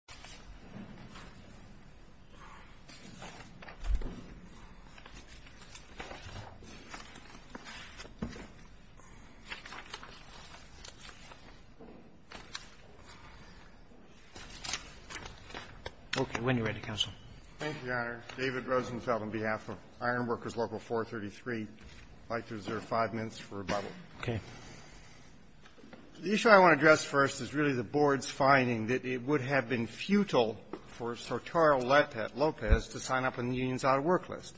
& Co. I'm going to call on David Rosenfeld on behalf of Ironworkers Local 433, I'd like to reserve five minutes for rebuttal. Okay. The issue I want to address first is really the board's finding that it would have been futile for Sotaro Lopez to sign up on the union's out-of-work list.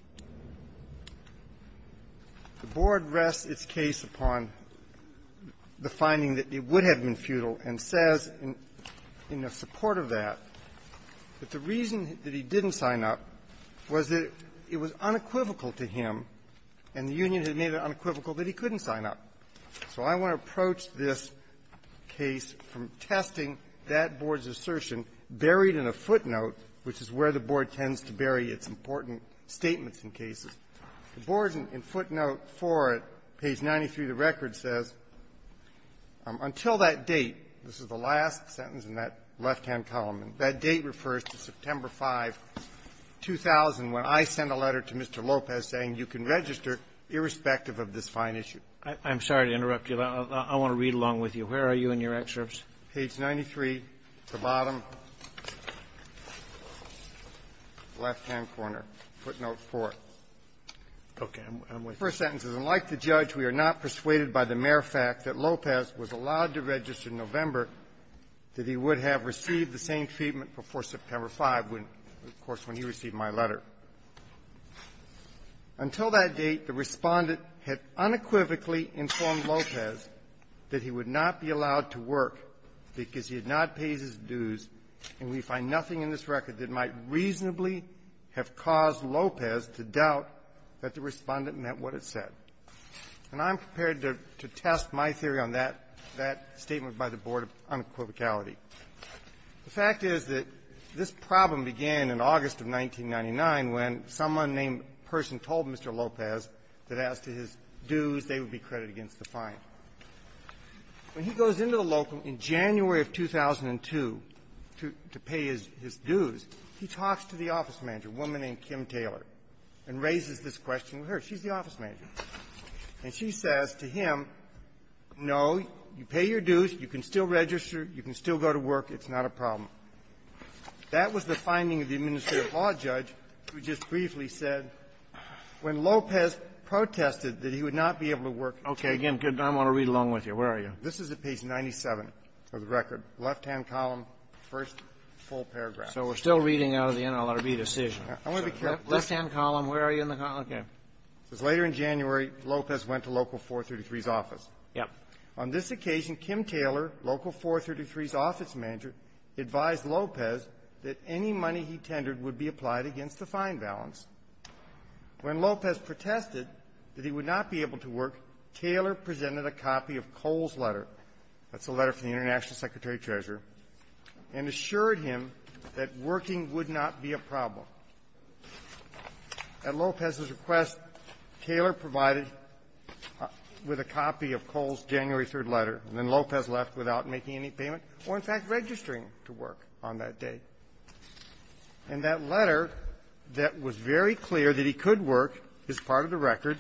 The board rests its case upon the finding that it would have been futile and says, in the support of that, that the reason that he didn't sign up was that it was unequivocal to him, and the union had made it unequivocal that he couldn't sign up. So I want to approach this case from testing that board's assertion buried in a footnote, which is where the board tends to bury its important statements in cases. The board, in footnote 4 at page 93 of the record, says, until that date, this is the last sentence in that left-hand column, and that date refers to September 5, 2000, when I sent a letter to Mr. Lopez saying you can register irrespective of this fine issue. I'm sorry to interrupt you. I want to read along with you. Where are you in your excerpts? Page 93, the bottom, left-hand corner, footnote 4. Okay. I'm with you. The first sentence is, unlike the judge, we are not persuaded by the mere fact that Lopez was allowed to register in November that he would have received the same treatment before September 5, when, of course, when he received my letter. Until that date, the Respondent had unequivocally informed Lopez that he would not be allowed to work because he had not paid his dues, and we find nothing in this record that might reasonably have caused Lopez to doubt that the Respondent meant what it said. And I'm prepared to test my theory on that statement by the board of unequivocality. The fact is that this problem began in August of 1999 when someone named the person told Mr. Lopez that as to his dues, they would be credited against the fine. When he goes into the local in January of 2002 to pay his dues, he talks to the office manager, a woman named Kim Taylor, and raises this question with her. She's the office manager. And she says to him, no, you pay your dues. You can still register. You can still go to work. It's not a problem. That was the finding of the administrative law judge who just briefly said when Lopez protested that he would not be able to work at all. Kennedy. Okay. Again, I want to read along with you. Where are you? This is at page 97 of the record, left-hand column, first full paragraph. So we're still reading out of the NLRB decision. I want to be careful. Left-hand column. Where are you in the column? Okay. It says, later in January, Lopez went to Local 433's office. Yes. On this occasion, Kim Taylor, Local 433's office manager, advised Lopez that any money he tendered would be applied against the fine balance. When Lopez protested that he would not be able to work, Taylor presented a copy of Cole's letter. That's a letter from the International Secretary-Treasurer, and assured him that working would not be a problem. At Lopez's request, Taylor provided with a copy of Cole's January 3rd letter, and then Lopez left without making any payment, or, in fact, registering to work on that day. And that letter that was very clear that he could work is part of the record.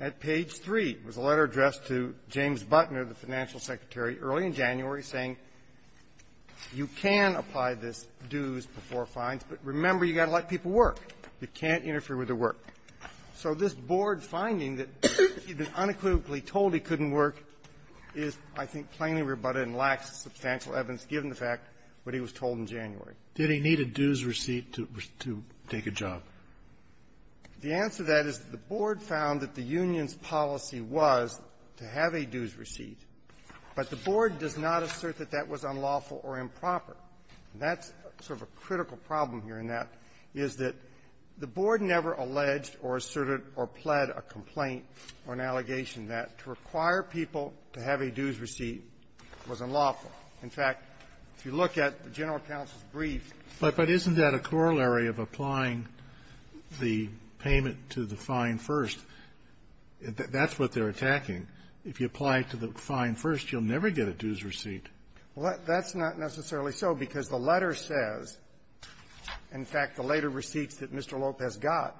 At page 3 was a letter addressed to James Butner, the financial secretary, early in January, saying you can apply this dues before fines, but remember, you got to let people work. You can't interfere with their work. So this Board finding that he'd been unequivocally told he couldn't work is, I think, plainly rebutted and lacks substantial evidence, given the fact what he was told in January. Did he need a dues receipt to take a job? The answer to that is the Board found that the union's policy was to have a dues receipt, but the Board does not assert that that was unlawful or improper. And that's sort of a critical problem here in that, is that the Board never alleged or asserted or pled a complaint or an allegation that to require people to have a dues receipt was unlawful. In fact, if you look at the general counsel's brief --" Kennedy, but isn't that a corollary of applying the payment to the fine first? That's what they're attacking. If you apply it to the fine first, you'll never get a dues receipt. Well, that's not necessarily so, because the letter says, in fact, the later receipts that Mr. Lopez got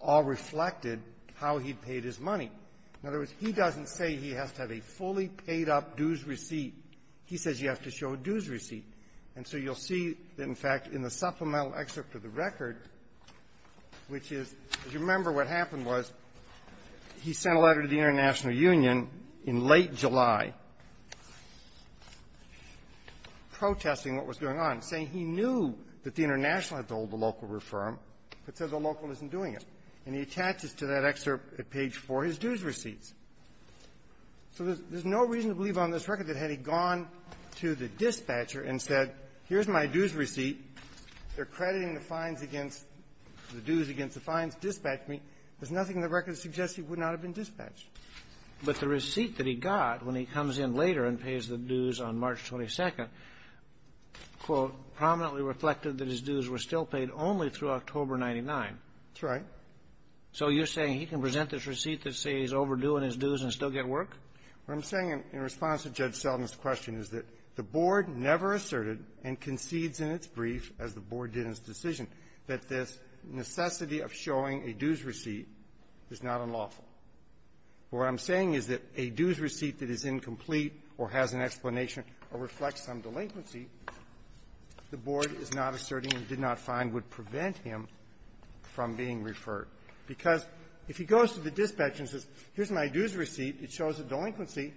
all reflected how he paid his money. In other words, he doesn't say he has to have a fully paid-up dues receipt. He says you have to show a dues receipt. And so you'll see, in fact, in the supplemental excerpt of the record, which is, as you remember, what happened was he sent a letter to the International Union in late July protesting what was going on, saying he knew that the International had to hold the local reform, but said the local isn't doing it. And he attaches to that excerpt at page 4 his dues receipts. So there's no reason to believe on this record that had he gone to the dispatcher and said, here's my dues receipt, they're crediting the fines against the dues against the fines. Dispatch me. There's nothing in the record that suggests he would not have been dispatched. But the receipt that he got when he comes in later and pays the dues on March 22nd, quote, prominently reflected that his dues were still paid only through October 99. That's right. So you're saying he can present this receipt that says he's overdue on his dues and still get work? What I'm saying in response to Judge Selden's question is that the Board never asserted and concedes in its brief, as the Board did in its decision, that this necessity of showing a dues receipt is not unlawful. What I'm saying is that a dues receipt that is incomplete or has an explanation or reflects some delinquency, the Board is not asserting and did not find would prevent him from being referred. Because if he goes to the dispatcher and says, here's my dues receipt, it shows a delinquency,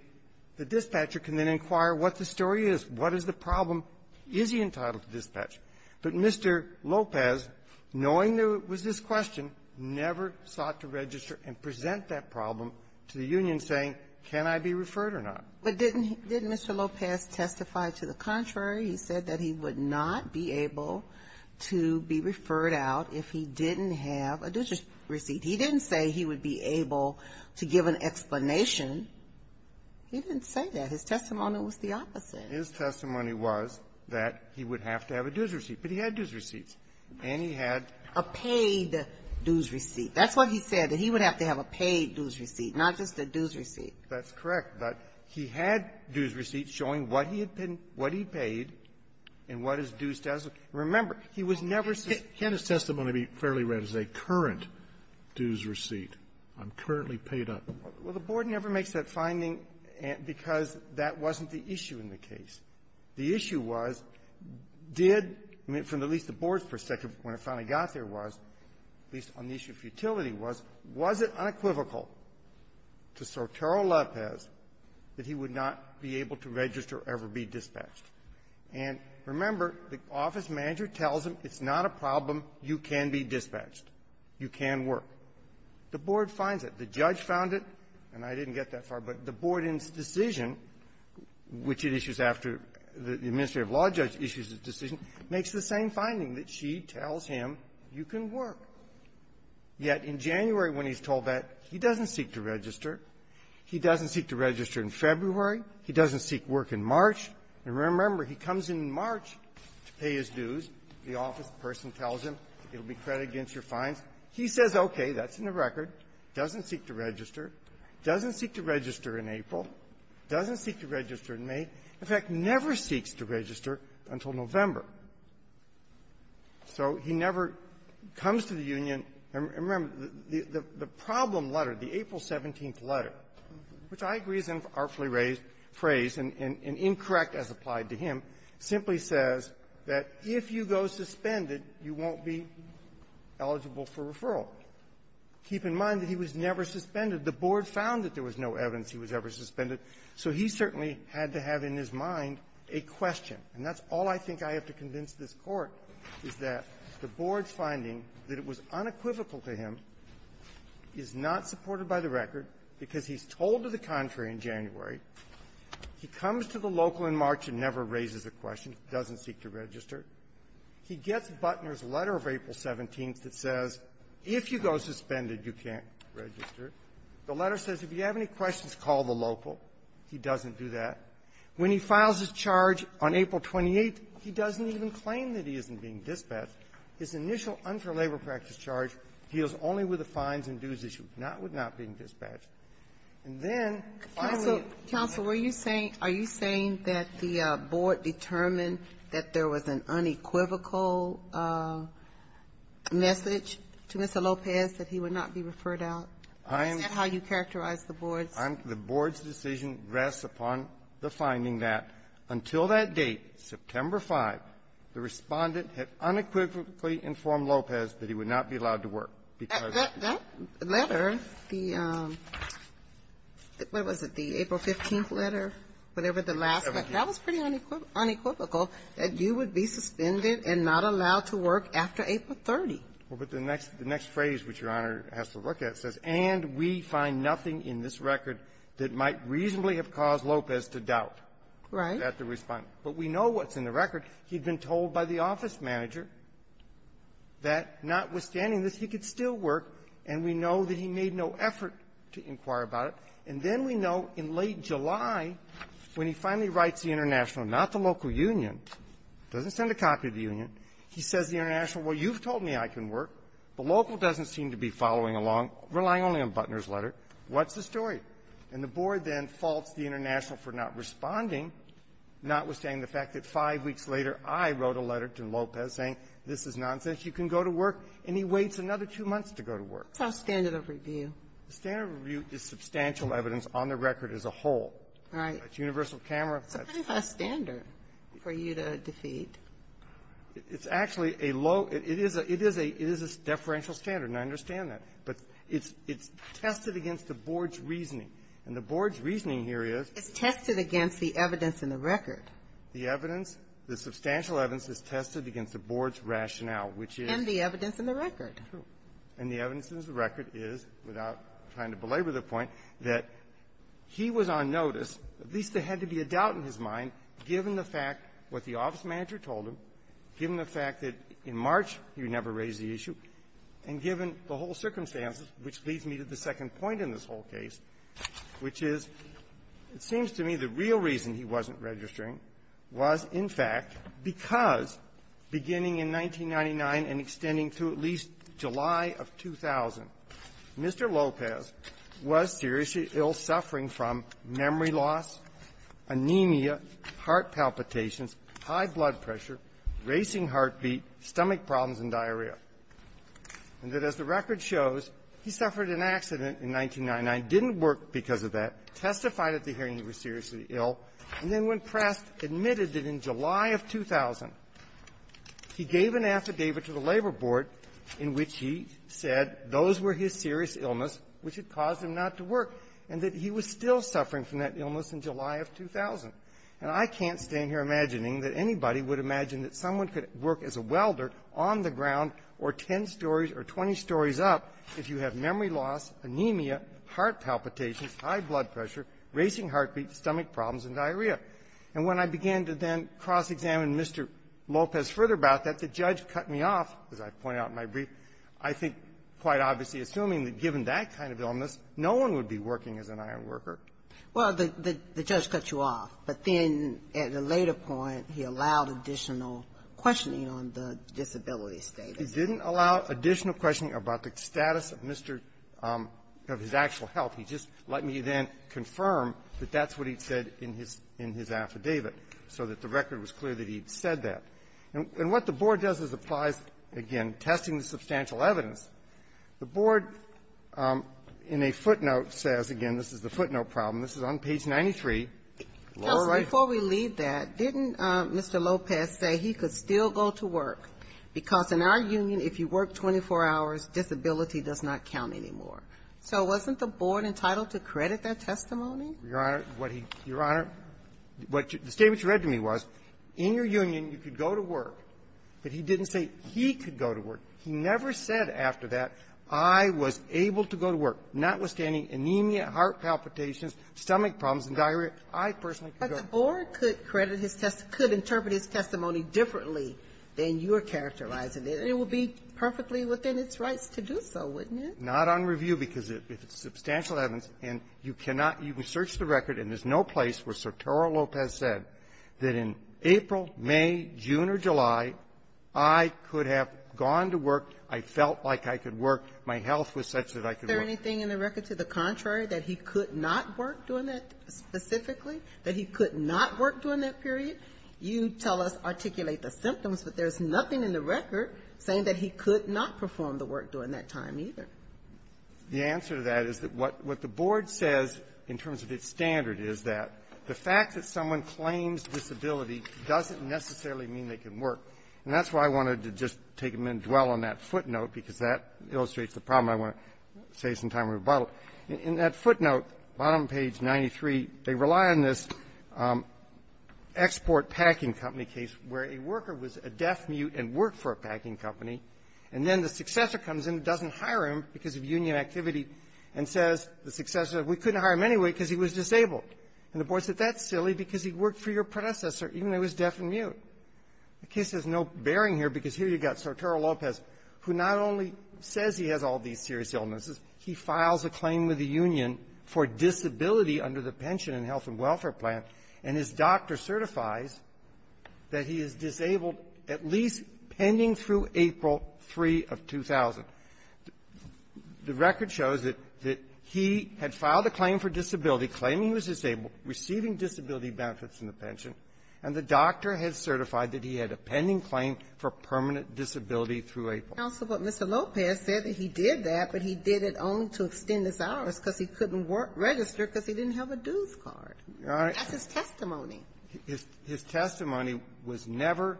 the dispatcher can then inquire what the story is, what is the problem, is he entitled to dispatch. But Mr. Lopez, knowing there was this question, never sought to register and present that problem to the union saying, can I be referred or not? But didn't Mr. Lopez testify to the contrary? He said that he would not be able to be referred out if he didn't have a dues receipt. He didn't say he would be able to give an explanation. He didn't say that. His testimony was the opposite. His testimony was that he would have to have a dues receipt. But he had dues receipts. And he had a paid dues receipt. That's what he said, that he would have to have a paid dues receipt, not just a dues receipt. That's correct. But he had dues receipts showing what he had been --- what he paid and what his dues status was. Remember, he was never ---- Can't his testimony be fairly read as a current dues receipt? I'm currently paid up. Well, the Board never makes that finding because that wasn't the issue in the case. The issue was, did ---- I mean, from at least the Board's perspective, when it finally got there was, at least on the issue of futility, was, was it unequivocal to Sotero Lopez that he would not be able to register or ever be dispatched? And remember, the office manager tells him it's not a problem. You can be dispatched. You can work. The Board finds it. The judge found it. And I didn't get that far. But the Board's decision, which it issues after the administrative law judge issues a decision, makes the same finding, that she tells him you can work. Yet in January, when he's told that, he doesn't seek to register. He doesn't seek to register in February. He doesn't seek work in March. And remember, he comes in March to pay his dues. The office person tells him it'll be credit against your fines. He says, okay, that's in the record. He doesn't seek to register. He doesn't seek to register in April. He doesn't seek to register in May. In fact, never seeks to register until November. So he never comes to the union. And remember, the problem letter, the April 17th letter, which I agree is an artfully phrased and incorrect as applied to him, simply says that if you go suspended, you won't be eligible for referral. Keep in mind that he was never suspended. The Board found that there was no evidence he was ever suspended. So he certainly had to have in his mind a question. And that's all I think I have to convince this Court, is that the Board's finding that it was unequivocal to him, is not supported by the record, because he's told to the contrary in January. He comes to the local in March and never raises a question, doesn't seek to register. He gets Butner's letter of April 17th that says, if you go suspended, you can't register. The letter says, if you have any questions, call the local. He doesn't do that. When he files his charge on April 28th, he doesn't even claim that he isn't being dispatched. His initial unfair labor practice charge deals only with the fines and dues issues, not with not being dispatched. And then, finally the union ---- unequivocal message to Mr. Lopez that he would not be referred out. Is that how you characterize the Board's ---- I'm ---- the Board's decision rests upon the finding that, until that date, September 5th, the Respondent had unequivocally informed Lopez that he would not be allowed to work, because ---- That letter, the ---- what was it, the April 15th letter, whatever the last letter was, that was pretty unequivocal that you would be suspended and not allowed to work after April 30th. Well, but the next phrase, which Your Honor has to look at, says, and we find nothing in this record that might reasonably have caused Lopez to doubt. Right. That the Respondent. But we know what's in the record. He'd been told by the office manager that, notwithstanding this, he could still work, and we know that he made no effort to inquire about it. And then we know, in late July, when he finally writes the International, not the local union, doesn't send a copy to the union, he says to the International, well, you've told me I can work. The local doesn't seem to be following along, relying only on Butner's letter. What's the story? And the Board then faults the International for not responding, notwithstanding the fact that five weeks later, I wrote a letter to Lopez saying, this is nonsense, you can go to work. And he waits another two months to go to work. That's our standard of review. The standard of review is substantial evidence on the record as a whole. Right. It's universal camera. So how is that a standard for you to defeat? It's actually a low – it is a – it is a deferential standard, and I understand that. But it's – it's tested against the Board's reasoning. And the Board's reasoning here is – It's tested against the evidence in the record. The evidence – the substantial evidence is tested against the Board's rationale, which is – And the evidence in the record. True. And the evidence in the record is, without trying to belabor the point, that he was on notice, at least there had to be a doubt in his mind, given the fact what the office manager told him, given the fact that in March he would never raise the issue, and given the whole circumstances, which leads me to the second point in this whole case, which is, it seems to me, the real reason he wasn't registering was, in fact, July of 2000, Mr. Lopez was seriously ill, suffering from memory loss, anemia, heart palpitations, high blood pressure, racing heartbeat, stomach problems, and diarrhea, and that, as the record shows, he suffered an accident in 1999, didn't work because of that, testified at the hearing he was seriously ill, and then in July of 2000, he gave an affidavit to the Labor Board in which he said those were his serious illness, which had caused him not to work, and that he was still suffering from that illness in July of 2000. And I can't stay in here imagining that anybody would imagine that someone could work as a welder on the ground or ten stories up if you have memory loss, anemia, heart palpitations, high blood pressure, racing heartbeat, stomach problems, and diarrhea. And when I began to then cross-examine Mr. Lopez further about that, the judge cut me off, as I point out in my brief, I think, quite obviously, assuming that given that kind of illness, no one would be working as an ironworker. Ginsburg. Well, the judge cut you off, but then at a later point, he allowed additional questioning on the disability status. He didn't allow additional questioning about the status of Mr. --" of his actual health. He just let me then confirm that that's what he said in his -- in his affidavit, so that the record was clear that he had said that. And what the Board does is applies, again, testing the substantial evidence. The Board, in a footnote, says, again, this is the footnote problem. This is on page 93, lower right. But before we leave that, didn't Mr. Lopez say he could still go to work? Because in our union, if you work 24 hours, disability does not count anymore. So wasn't the Board entitled to credit that testimony? Your Honor, what he -- Your Honor, what you -- the statement you read to me was, in your union, you could go to work. But he didn't say he could go to work. He never said after that, I was able to go to work, notwithstanding anemia, But the Board could credit his testimony, could interpret his testimony differently than you are characterizing it. And it would be perfectly within its rights to do so, wouldn't it? Not on review, because if it's substantial evidence, and you cannot -- you can search the record, and there's no place where Sertoro Lopez said that in April, May, June, or July, I could have gone to work, I felt like I could work, my health was such that I could work. Is there anything in the record to the contrary, that he could not work doing that period? You tell us, articulate the symptoms, but there's nothing in the record saying that he could not perform the work during that time, either. The answer to that is that what the Board says, in terms of its standard, is that the fact that someone claims disability doesn't necessarily mean they can work. And that's why I wanted to just take a minute and dwell on that footnote, because that illustrates the problem I want to say sometime in rebuttal. In that footnote, bottom page 93, they rely on this export packing company case where a worker was a deaf, mute, and worked for a packing company, and then the successor comes in, doesn't hire him because of union activity, and says, the successor, we couldn't hire him anyway because he was disabled. And the Board said, that's silly, because he worked for your predecessor, even though he was deaf and mute. The case has no bearing here, because here you've got Sertoro Lopez, who not only says he has all these serious illnesses, he files a claim with the union for disability under the Pension and Health and Welfare Plan, and his doctor certifies that he is disabled at least pending through April 3 of 2000. The record shows that he had filed a claim for disability, claiming he was disabled, receiving disability benefits in the pension, and the doctor had certified that he had a pending claim for permanent disability through April. Ginsburg. Counsel, but Mr. Lopez said that he did that, but he did it only to extend his hours because he couldn't work or register because he didn't have a dues card. That's his testimony. His testimony was never,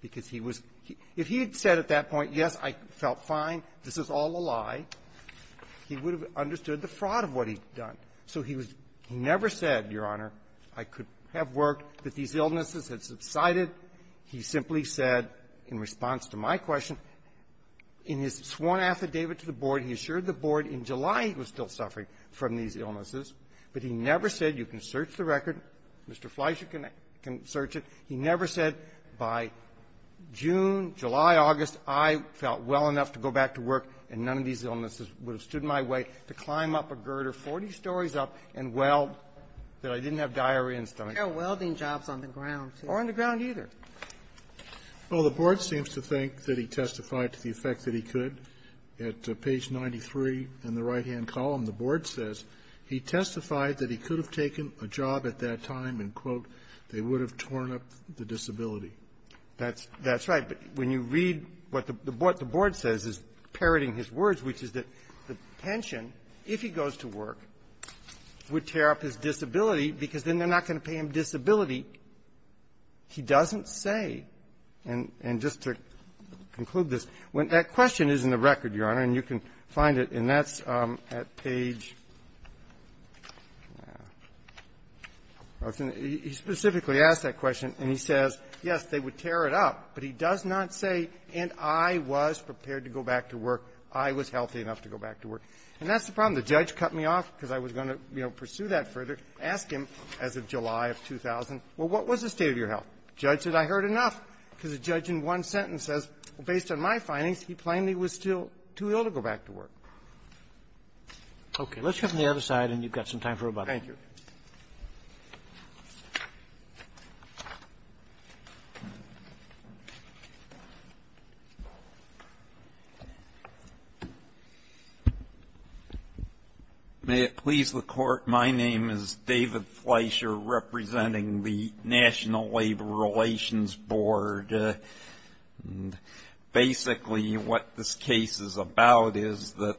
because he was — if he had said at that point, yes, I felt fine, this is all a lie, he would have understood the fraud of what he'd done. So he was — he never said, Your Honor, I could have worked, that these illnesses had subsided. He simply said, in response to my question, in his sworn affidavit to the board, he assured the board in July he was still suffering from these illnesses, but he never said, you can search the record, Mr. Fleischer can search it. He never said, by June, July, August, I felt well enough to go back to work, and none of these illnesses would have stood in my way to climb up a girder 40 stories up and weld that I didn't have diarrhea and stomach pain. And there are welding jobs on the ground, too. Or on the ground, either. Well, the board seems to think that he testified to the effect that he could. At page 93 in the right-hand column, the board says he testified that he could have taken a job at that time and, quote, they would have torn up the disability. That's — that's right. But when you read what the board says is parroting his words, which is that the pension, if he goes to work, would tear up his disability because then they're not going to pay him disability, he doesn't say. And just to conclude this, when that question is in the record, Your Honor, and you can find it, and that's at page — he specifically asked that question, and he says, yes, they would tear it up, but he does not say, and I was prepared to go back to work. I was healthy enough to go back to work. And that's the problem. The judge cut me off because I was going to, you know, pursue that further. Ask him, as of July of 2000, well, what was the state of your health? The judge said, I heard enough, because the judge in one sentence says, well, based on my findings, he plainly was still too ill to go back to work. Okay. Let's go to the other side, and you've got some time for rebuttal. Thank you. May it please the Court, my name is David Fleischer, representing the National Labor Relations Board. Basically, what this case is about is that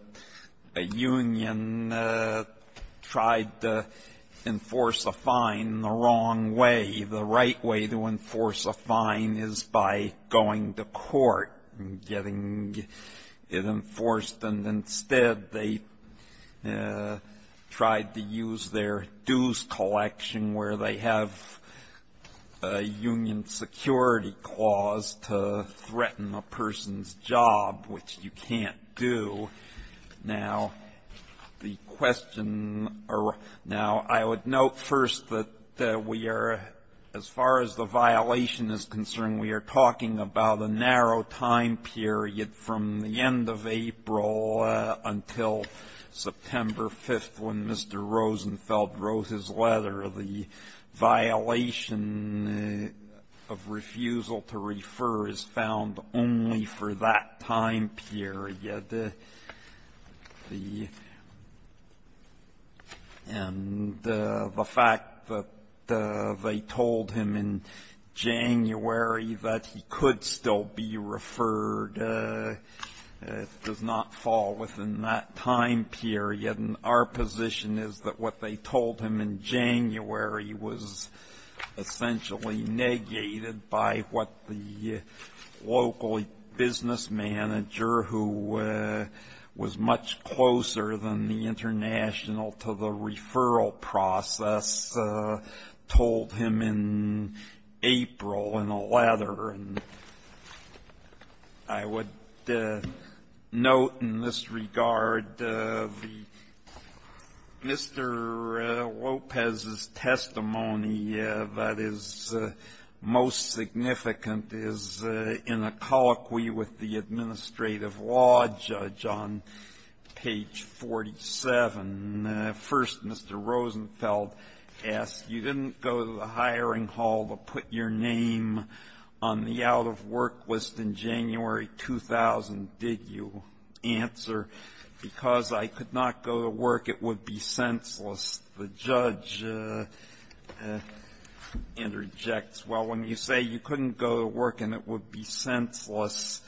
a union tried to enforce a fine the wrong way. The right way to enforce a fine is by going to court and getting it enforced. And instead, they tried to use their dues collection, where they have a union security clause to threaten a person's job, which you can't do. Now, the question, or now, I would note first that we are, as far as the violation is concerned, we are talking about a narrow time period from the end of April until September 5th, when Mr. Rosenfeld wrote his letter. The violation of refusal to refer is found only for that time period. The end of the fact that they told him in January that he could still be referred does not fall within that time period. And our position is that what they told him in January was essentially negated by what the local business manager, who was much closer than the international to the referral process, told him in April in a letter. And I would note in this regard the Mr. Lopez's testimony that is most significant is in a colloquy with the administrative law judge on page 47. First, Mr. Rosenfeld asked, You didn't go to the hiring hall to put your name on the out-of-work list in January 2000, did you? Answer, Because I could not go to work, it would be senseless. The judge interjects, Well, when you say you couldn't go to work and it would be senseless,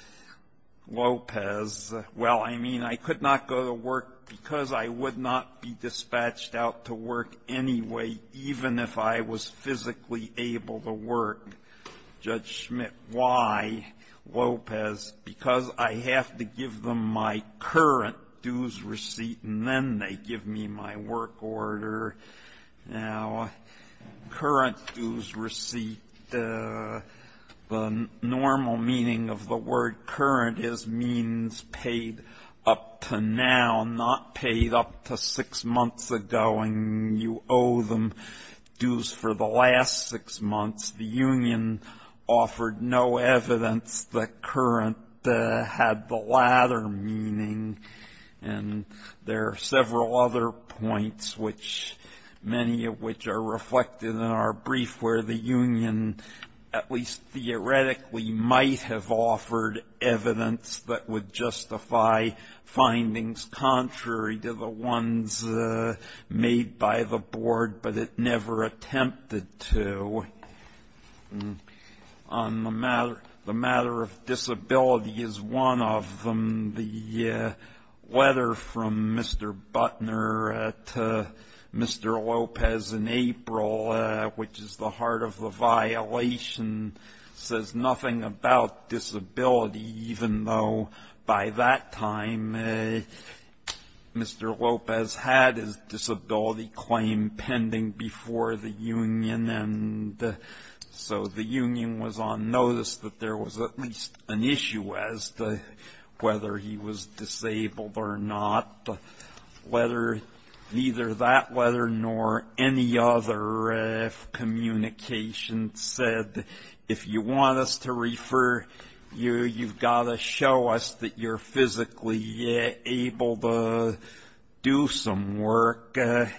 Lopez, Well, I mean, I could not go to work because I would not be dispatched out to work anyway, even if I was physically able to work. Judge Schmidt, why, Lopez? Because I have to give them my current dues receipt, and then they give me my work order. Now, current dues receipt, the normal meaning of the word current is means paid up to now, not paid up to six months ago, and you owe them dues for the last six months. The union offered no evidence that current had the latter meaning, and there are several other points which many of which are reflected in our brief where the union at least theoretically might have offered evidence that would justify findings contrary to the ones made by the board, but it never attempted to. On the matter of disability is one of them. The letter from Mr. Butner to Mr. Lopez in April, which is the heart of the violation, says nothing about disability claim pending before the union, and so the union was on notice that there was at least an issue as to whether he was disabled or not. Neither that letter nor any other communication said, if you want us to refer you, you've got to show us that you're physically able to do some work. It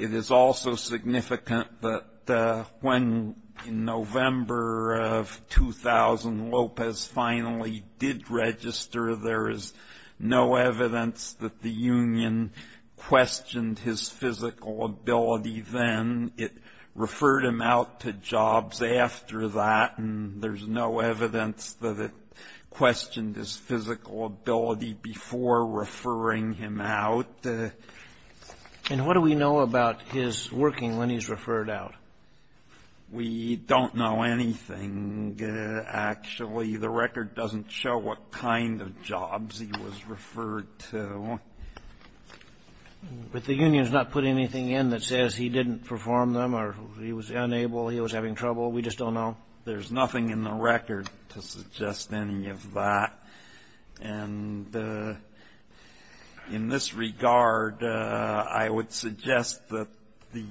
is also significant that when, in November of 2000, Lopez finally did register, there is no evidence that the union questioned his physical ability then. It referred him out to jobs after that, and there's no evidence that it questioned his physical ability before referring him out. And what do we know about his working when he's referred out? We don't know anything, actually. The record doesn't show what kind of jobs he was referred to. But the union's not putting anything in that says he didn't perform them or he was unable, he was having trouble. We just don't know. There's nothing in the record to suggest any of that. And in this regard, I would suggest that the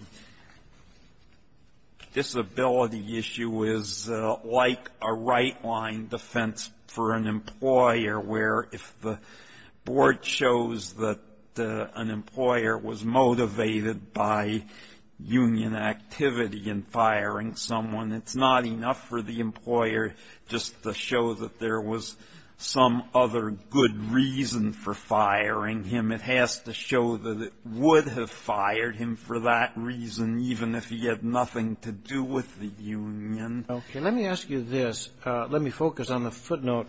disability issue is like a right-line defense for an employer where if the board shows that an employer was motivated by union activity in firing someone, it's not enough for the employer just to show that there was some other good reason for firing him. It has to show that it would have fired him for that reason, even if he had nothing to do with the union. Okay. Let me ask you this. Let me focus on the footnote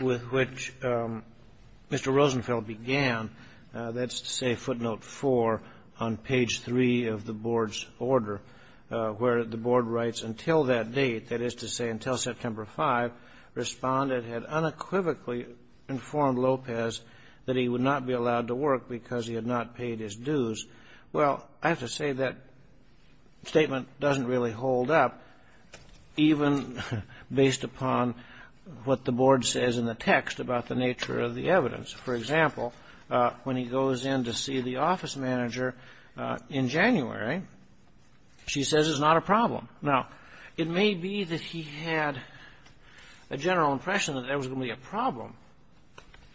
with which Mr. Rosenfeld began. That's to say footnote 4 on page 3 of the board's order, where the board writes, until that date, that is to say until September 5, responded, had unequivocally informed Lopez that he would not be allowed to work because he had not paid his dues. Well, I have to say that statement doesn't really hold up, even based upon what the board says in the text about the nature of the evidence. For example, when he goes in to see the office manager in January, she says it's not a problem. Now, it may be that he had a general impression that there was going to be a problem,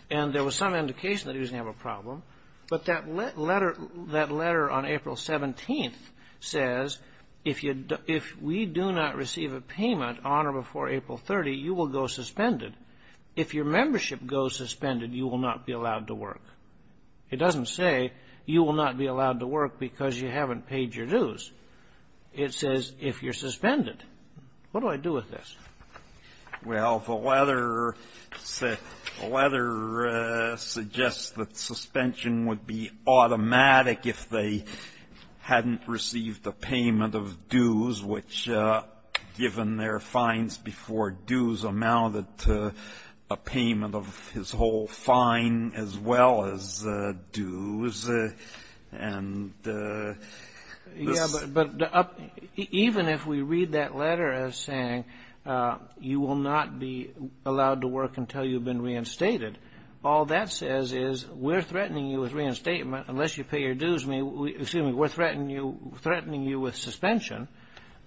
and there was some indication that he was going to have a problem, but that letter on April 17th says if we do not receive a payment on or before April 30, you will go suspended. If your membership goes suspended, you will not be allowed to work. It doesn't say you will not be allowed to work because you haven't paid your dues. It says if you're suspended. What do I do with this? Well, the letter suggests that suspension would be automatic if they hadn't received a payment of dues, which given their fines before dues amounted to a payment of his whole And this is the end. Yeah, but even if we read that letter as saying you will not be allowed to work until you've been reinstated, all that says is we're threatening you with reinstatement unless you pay your dues. We're threatening you with suspension.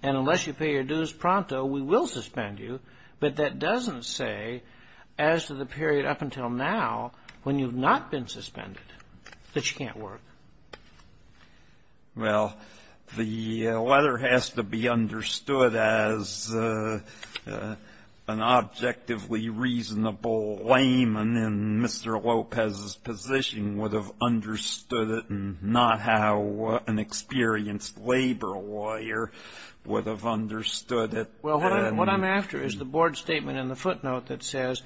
And unless you pay your dues pronto, we will suspend you. But that doesn't say as to the period up until now when you've not been suspended that you can't work. Well, the letter has to be understood as an objectively reasonable layman in Mr. Lopez's position would have understood it and not how an experienced labor lawyer would have understood it. Well, what I'm after is the board statement in the footnote that says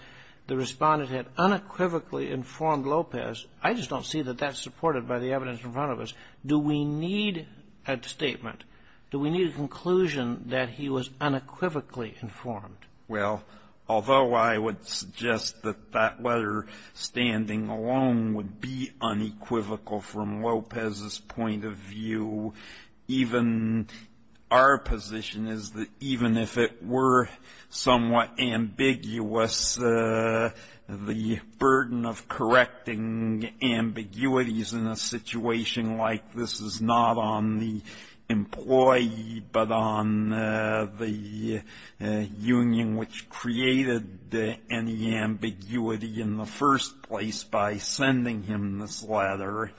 the respondent had unequivocally informed Lopez. I just don't see that that's supported by the evidence in front of us. Do we need a statement? Do we need a conclusion that he was unequivocally informed? Well, although I would suggest that that letter standing alone would be unequivocal from our position is that even if it were somewhat ambiguous, the burden of correcting ambiguities in a situation like this is not on the employee, but on the union, which created any ambiguity in the first place by sending him this letter.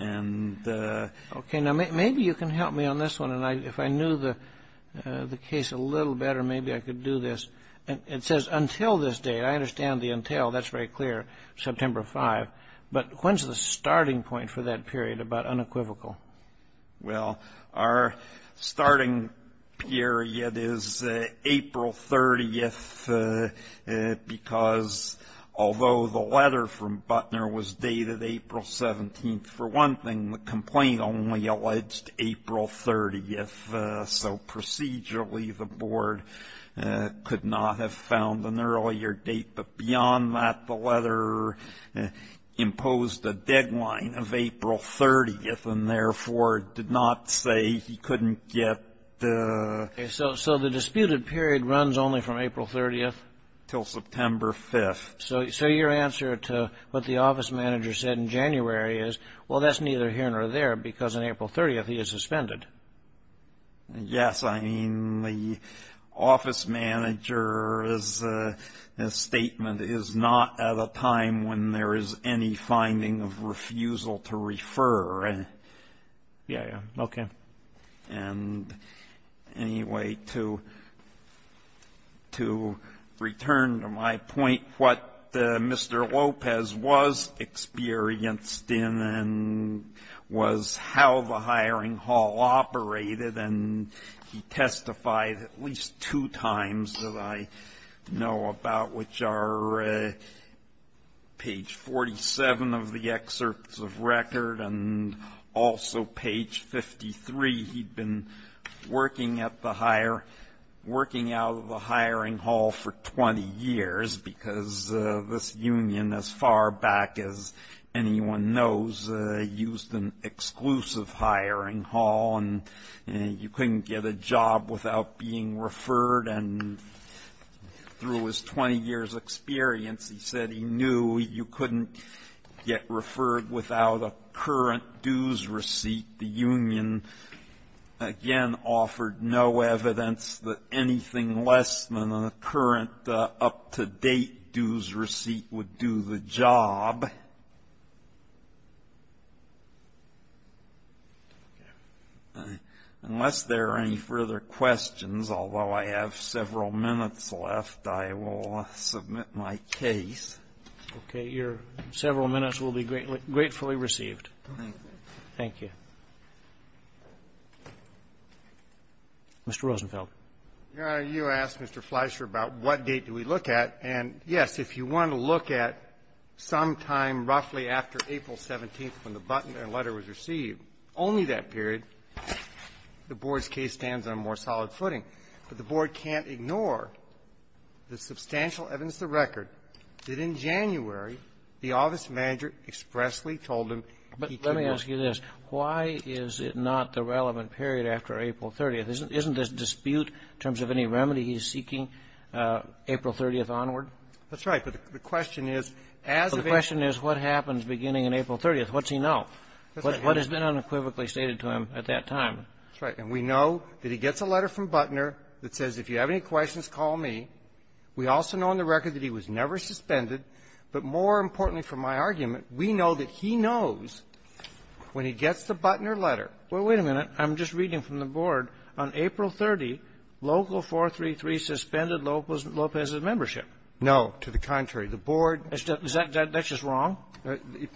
And OK, now maybe you can help me on this one. And if I knew the case a little better, maybe I could do this. And it says until this day, I understand the entail. That's very clear. September 5. But when's the starting point for that period about unequivocal? Well, our starting period is April 30th, because although the letter from Butler was dated April 17th, for one thing, the complaint only alleged April 30th. So procedurally, the board could not have found an earlier date. But beyond that, the letter imposed a deadline of April 30th and therefore did not say he couldn't get the. So so the disputed period runs only from April 30th till September 5th. So your answer to what the office manager said in January is, well, that's neither here nor there, because on April 30th, he is suspended. Yes, I mean, the office manager's statement is not at a time when there is any finding of refusal to refer. Yeah. OK. And anyway, to to return to my point, what Mr. Lopez was experienced in and was how the hiring hall operated, and he testified at least two times that I know about, which are page 47 of the excerpts of record and also page 53. He'd been working at the higher working out of the hiring hall for 20 years because this union, as far back as anyone knows, used an exclusive hiring hall and you couldn't get a job without being referred. And through his 20 years experience, he said he knew you couldn't get referred without a current dues receipt. The union, again, offered no evidence that anything less than the current up-to-date dues receipt would do the job. Unless there are any further questions, although I have several minutes left, I will submit my case. Okay. Your several minutes will be gratefully received. Thank you. Thank you. Mr. Rosenfeld. Your Honor, you asked Mr. Fleischer about what date do we look at. And, yes, if you want to look at sometime roughly after April 17th when the button and letter was received, only that period, the Board's case stands on a more solid footing. But the Board can't ignore the substantial evidence of record that in January the office manager expressly told him he could not. But let me ask you this. Why is it not the relevant period after April 30th? Isn't this dispute in terms of any remedy he's seeking April 30th onward? That's right. But the question is, as of April 30th, what's he know? What has been unequivocally stated to him at that time? That's right. And we know that he gets a letter from Butner that says, if you have any questions, call me. We also know on the record that he was never suspended. But more importantly for my argument, we know that he knows when he gets the Butner letter. Well, wait a minute. I'm just reading from the Board. On April 30th, Local 433 suspended Lopez's membership. No. To the contrary. The Board — Is that just wrong?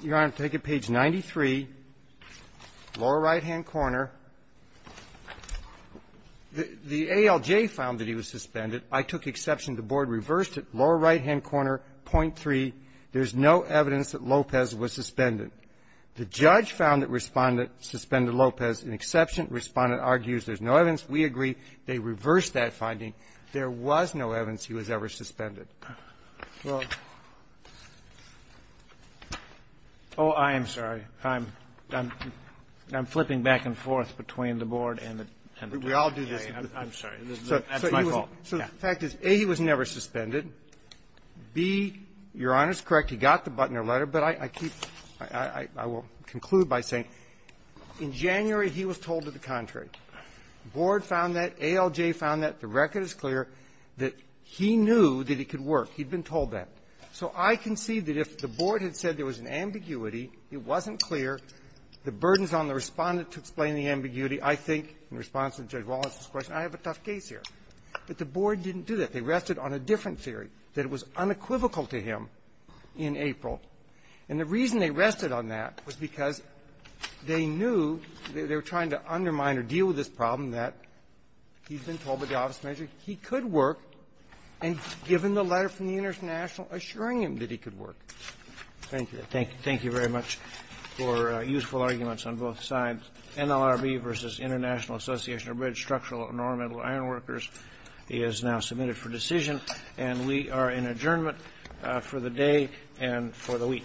Your Honor, take a page 93, lower right-hand corner. The ALJ found that he was suspended. I took exception. The Board reversed it. Lower right-hand corner, .3. There's no evidence that Lopez was suspended. The judge found that Respondent suspended Lopez in exception. Respondent argues there's no evidence. We agree. They reversed that finding. There was no evidence he was ever suspended. Well — Oh, I am sorry. I'm flipping back and forth between the Board and the jury. We all do this. I'm sorry. That's my fault. So the fact is, A, he was never suspended. B, Your Honor is correct. He got the Butner letter. But I keep — I will conclude by saying, in January, he was told to the contrary. The Board found that. ALJ found that. The record is clear that he knew that it could work. He'd been told that. So I concede that if the Board had said there was an ambiguity, it wasn't clear. The burden is on the Respondent to explain the ambiguity. I think, in response to Judge Wallace's question, I have a tough case here. But the Board didn't do that. They rested on a different theory, that it was unequivocal to him in April. And the reason they rested on that was because they knew they were trying to undermine or deal with this problem, that he'd been told by the office manager he could work, and given the letter from the International assuring him that he could work. Thank you. Thank you. Thank you very much for useful arguments on both sides. NLRB v. International Association of Red Structural and Ornamental Ironworkers is now submitted for decision, and we are in adjournment for the day and for the week.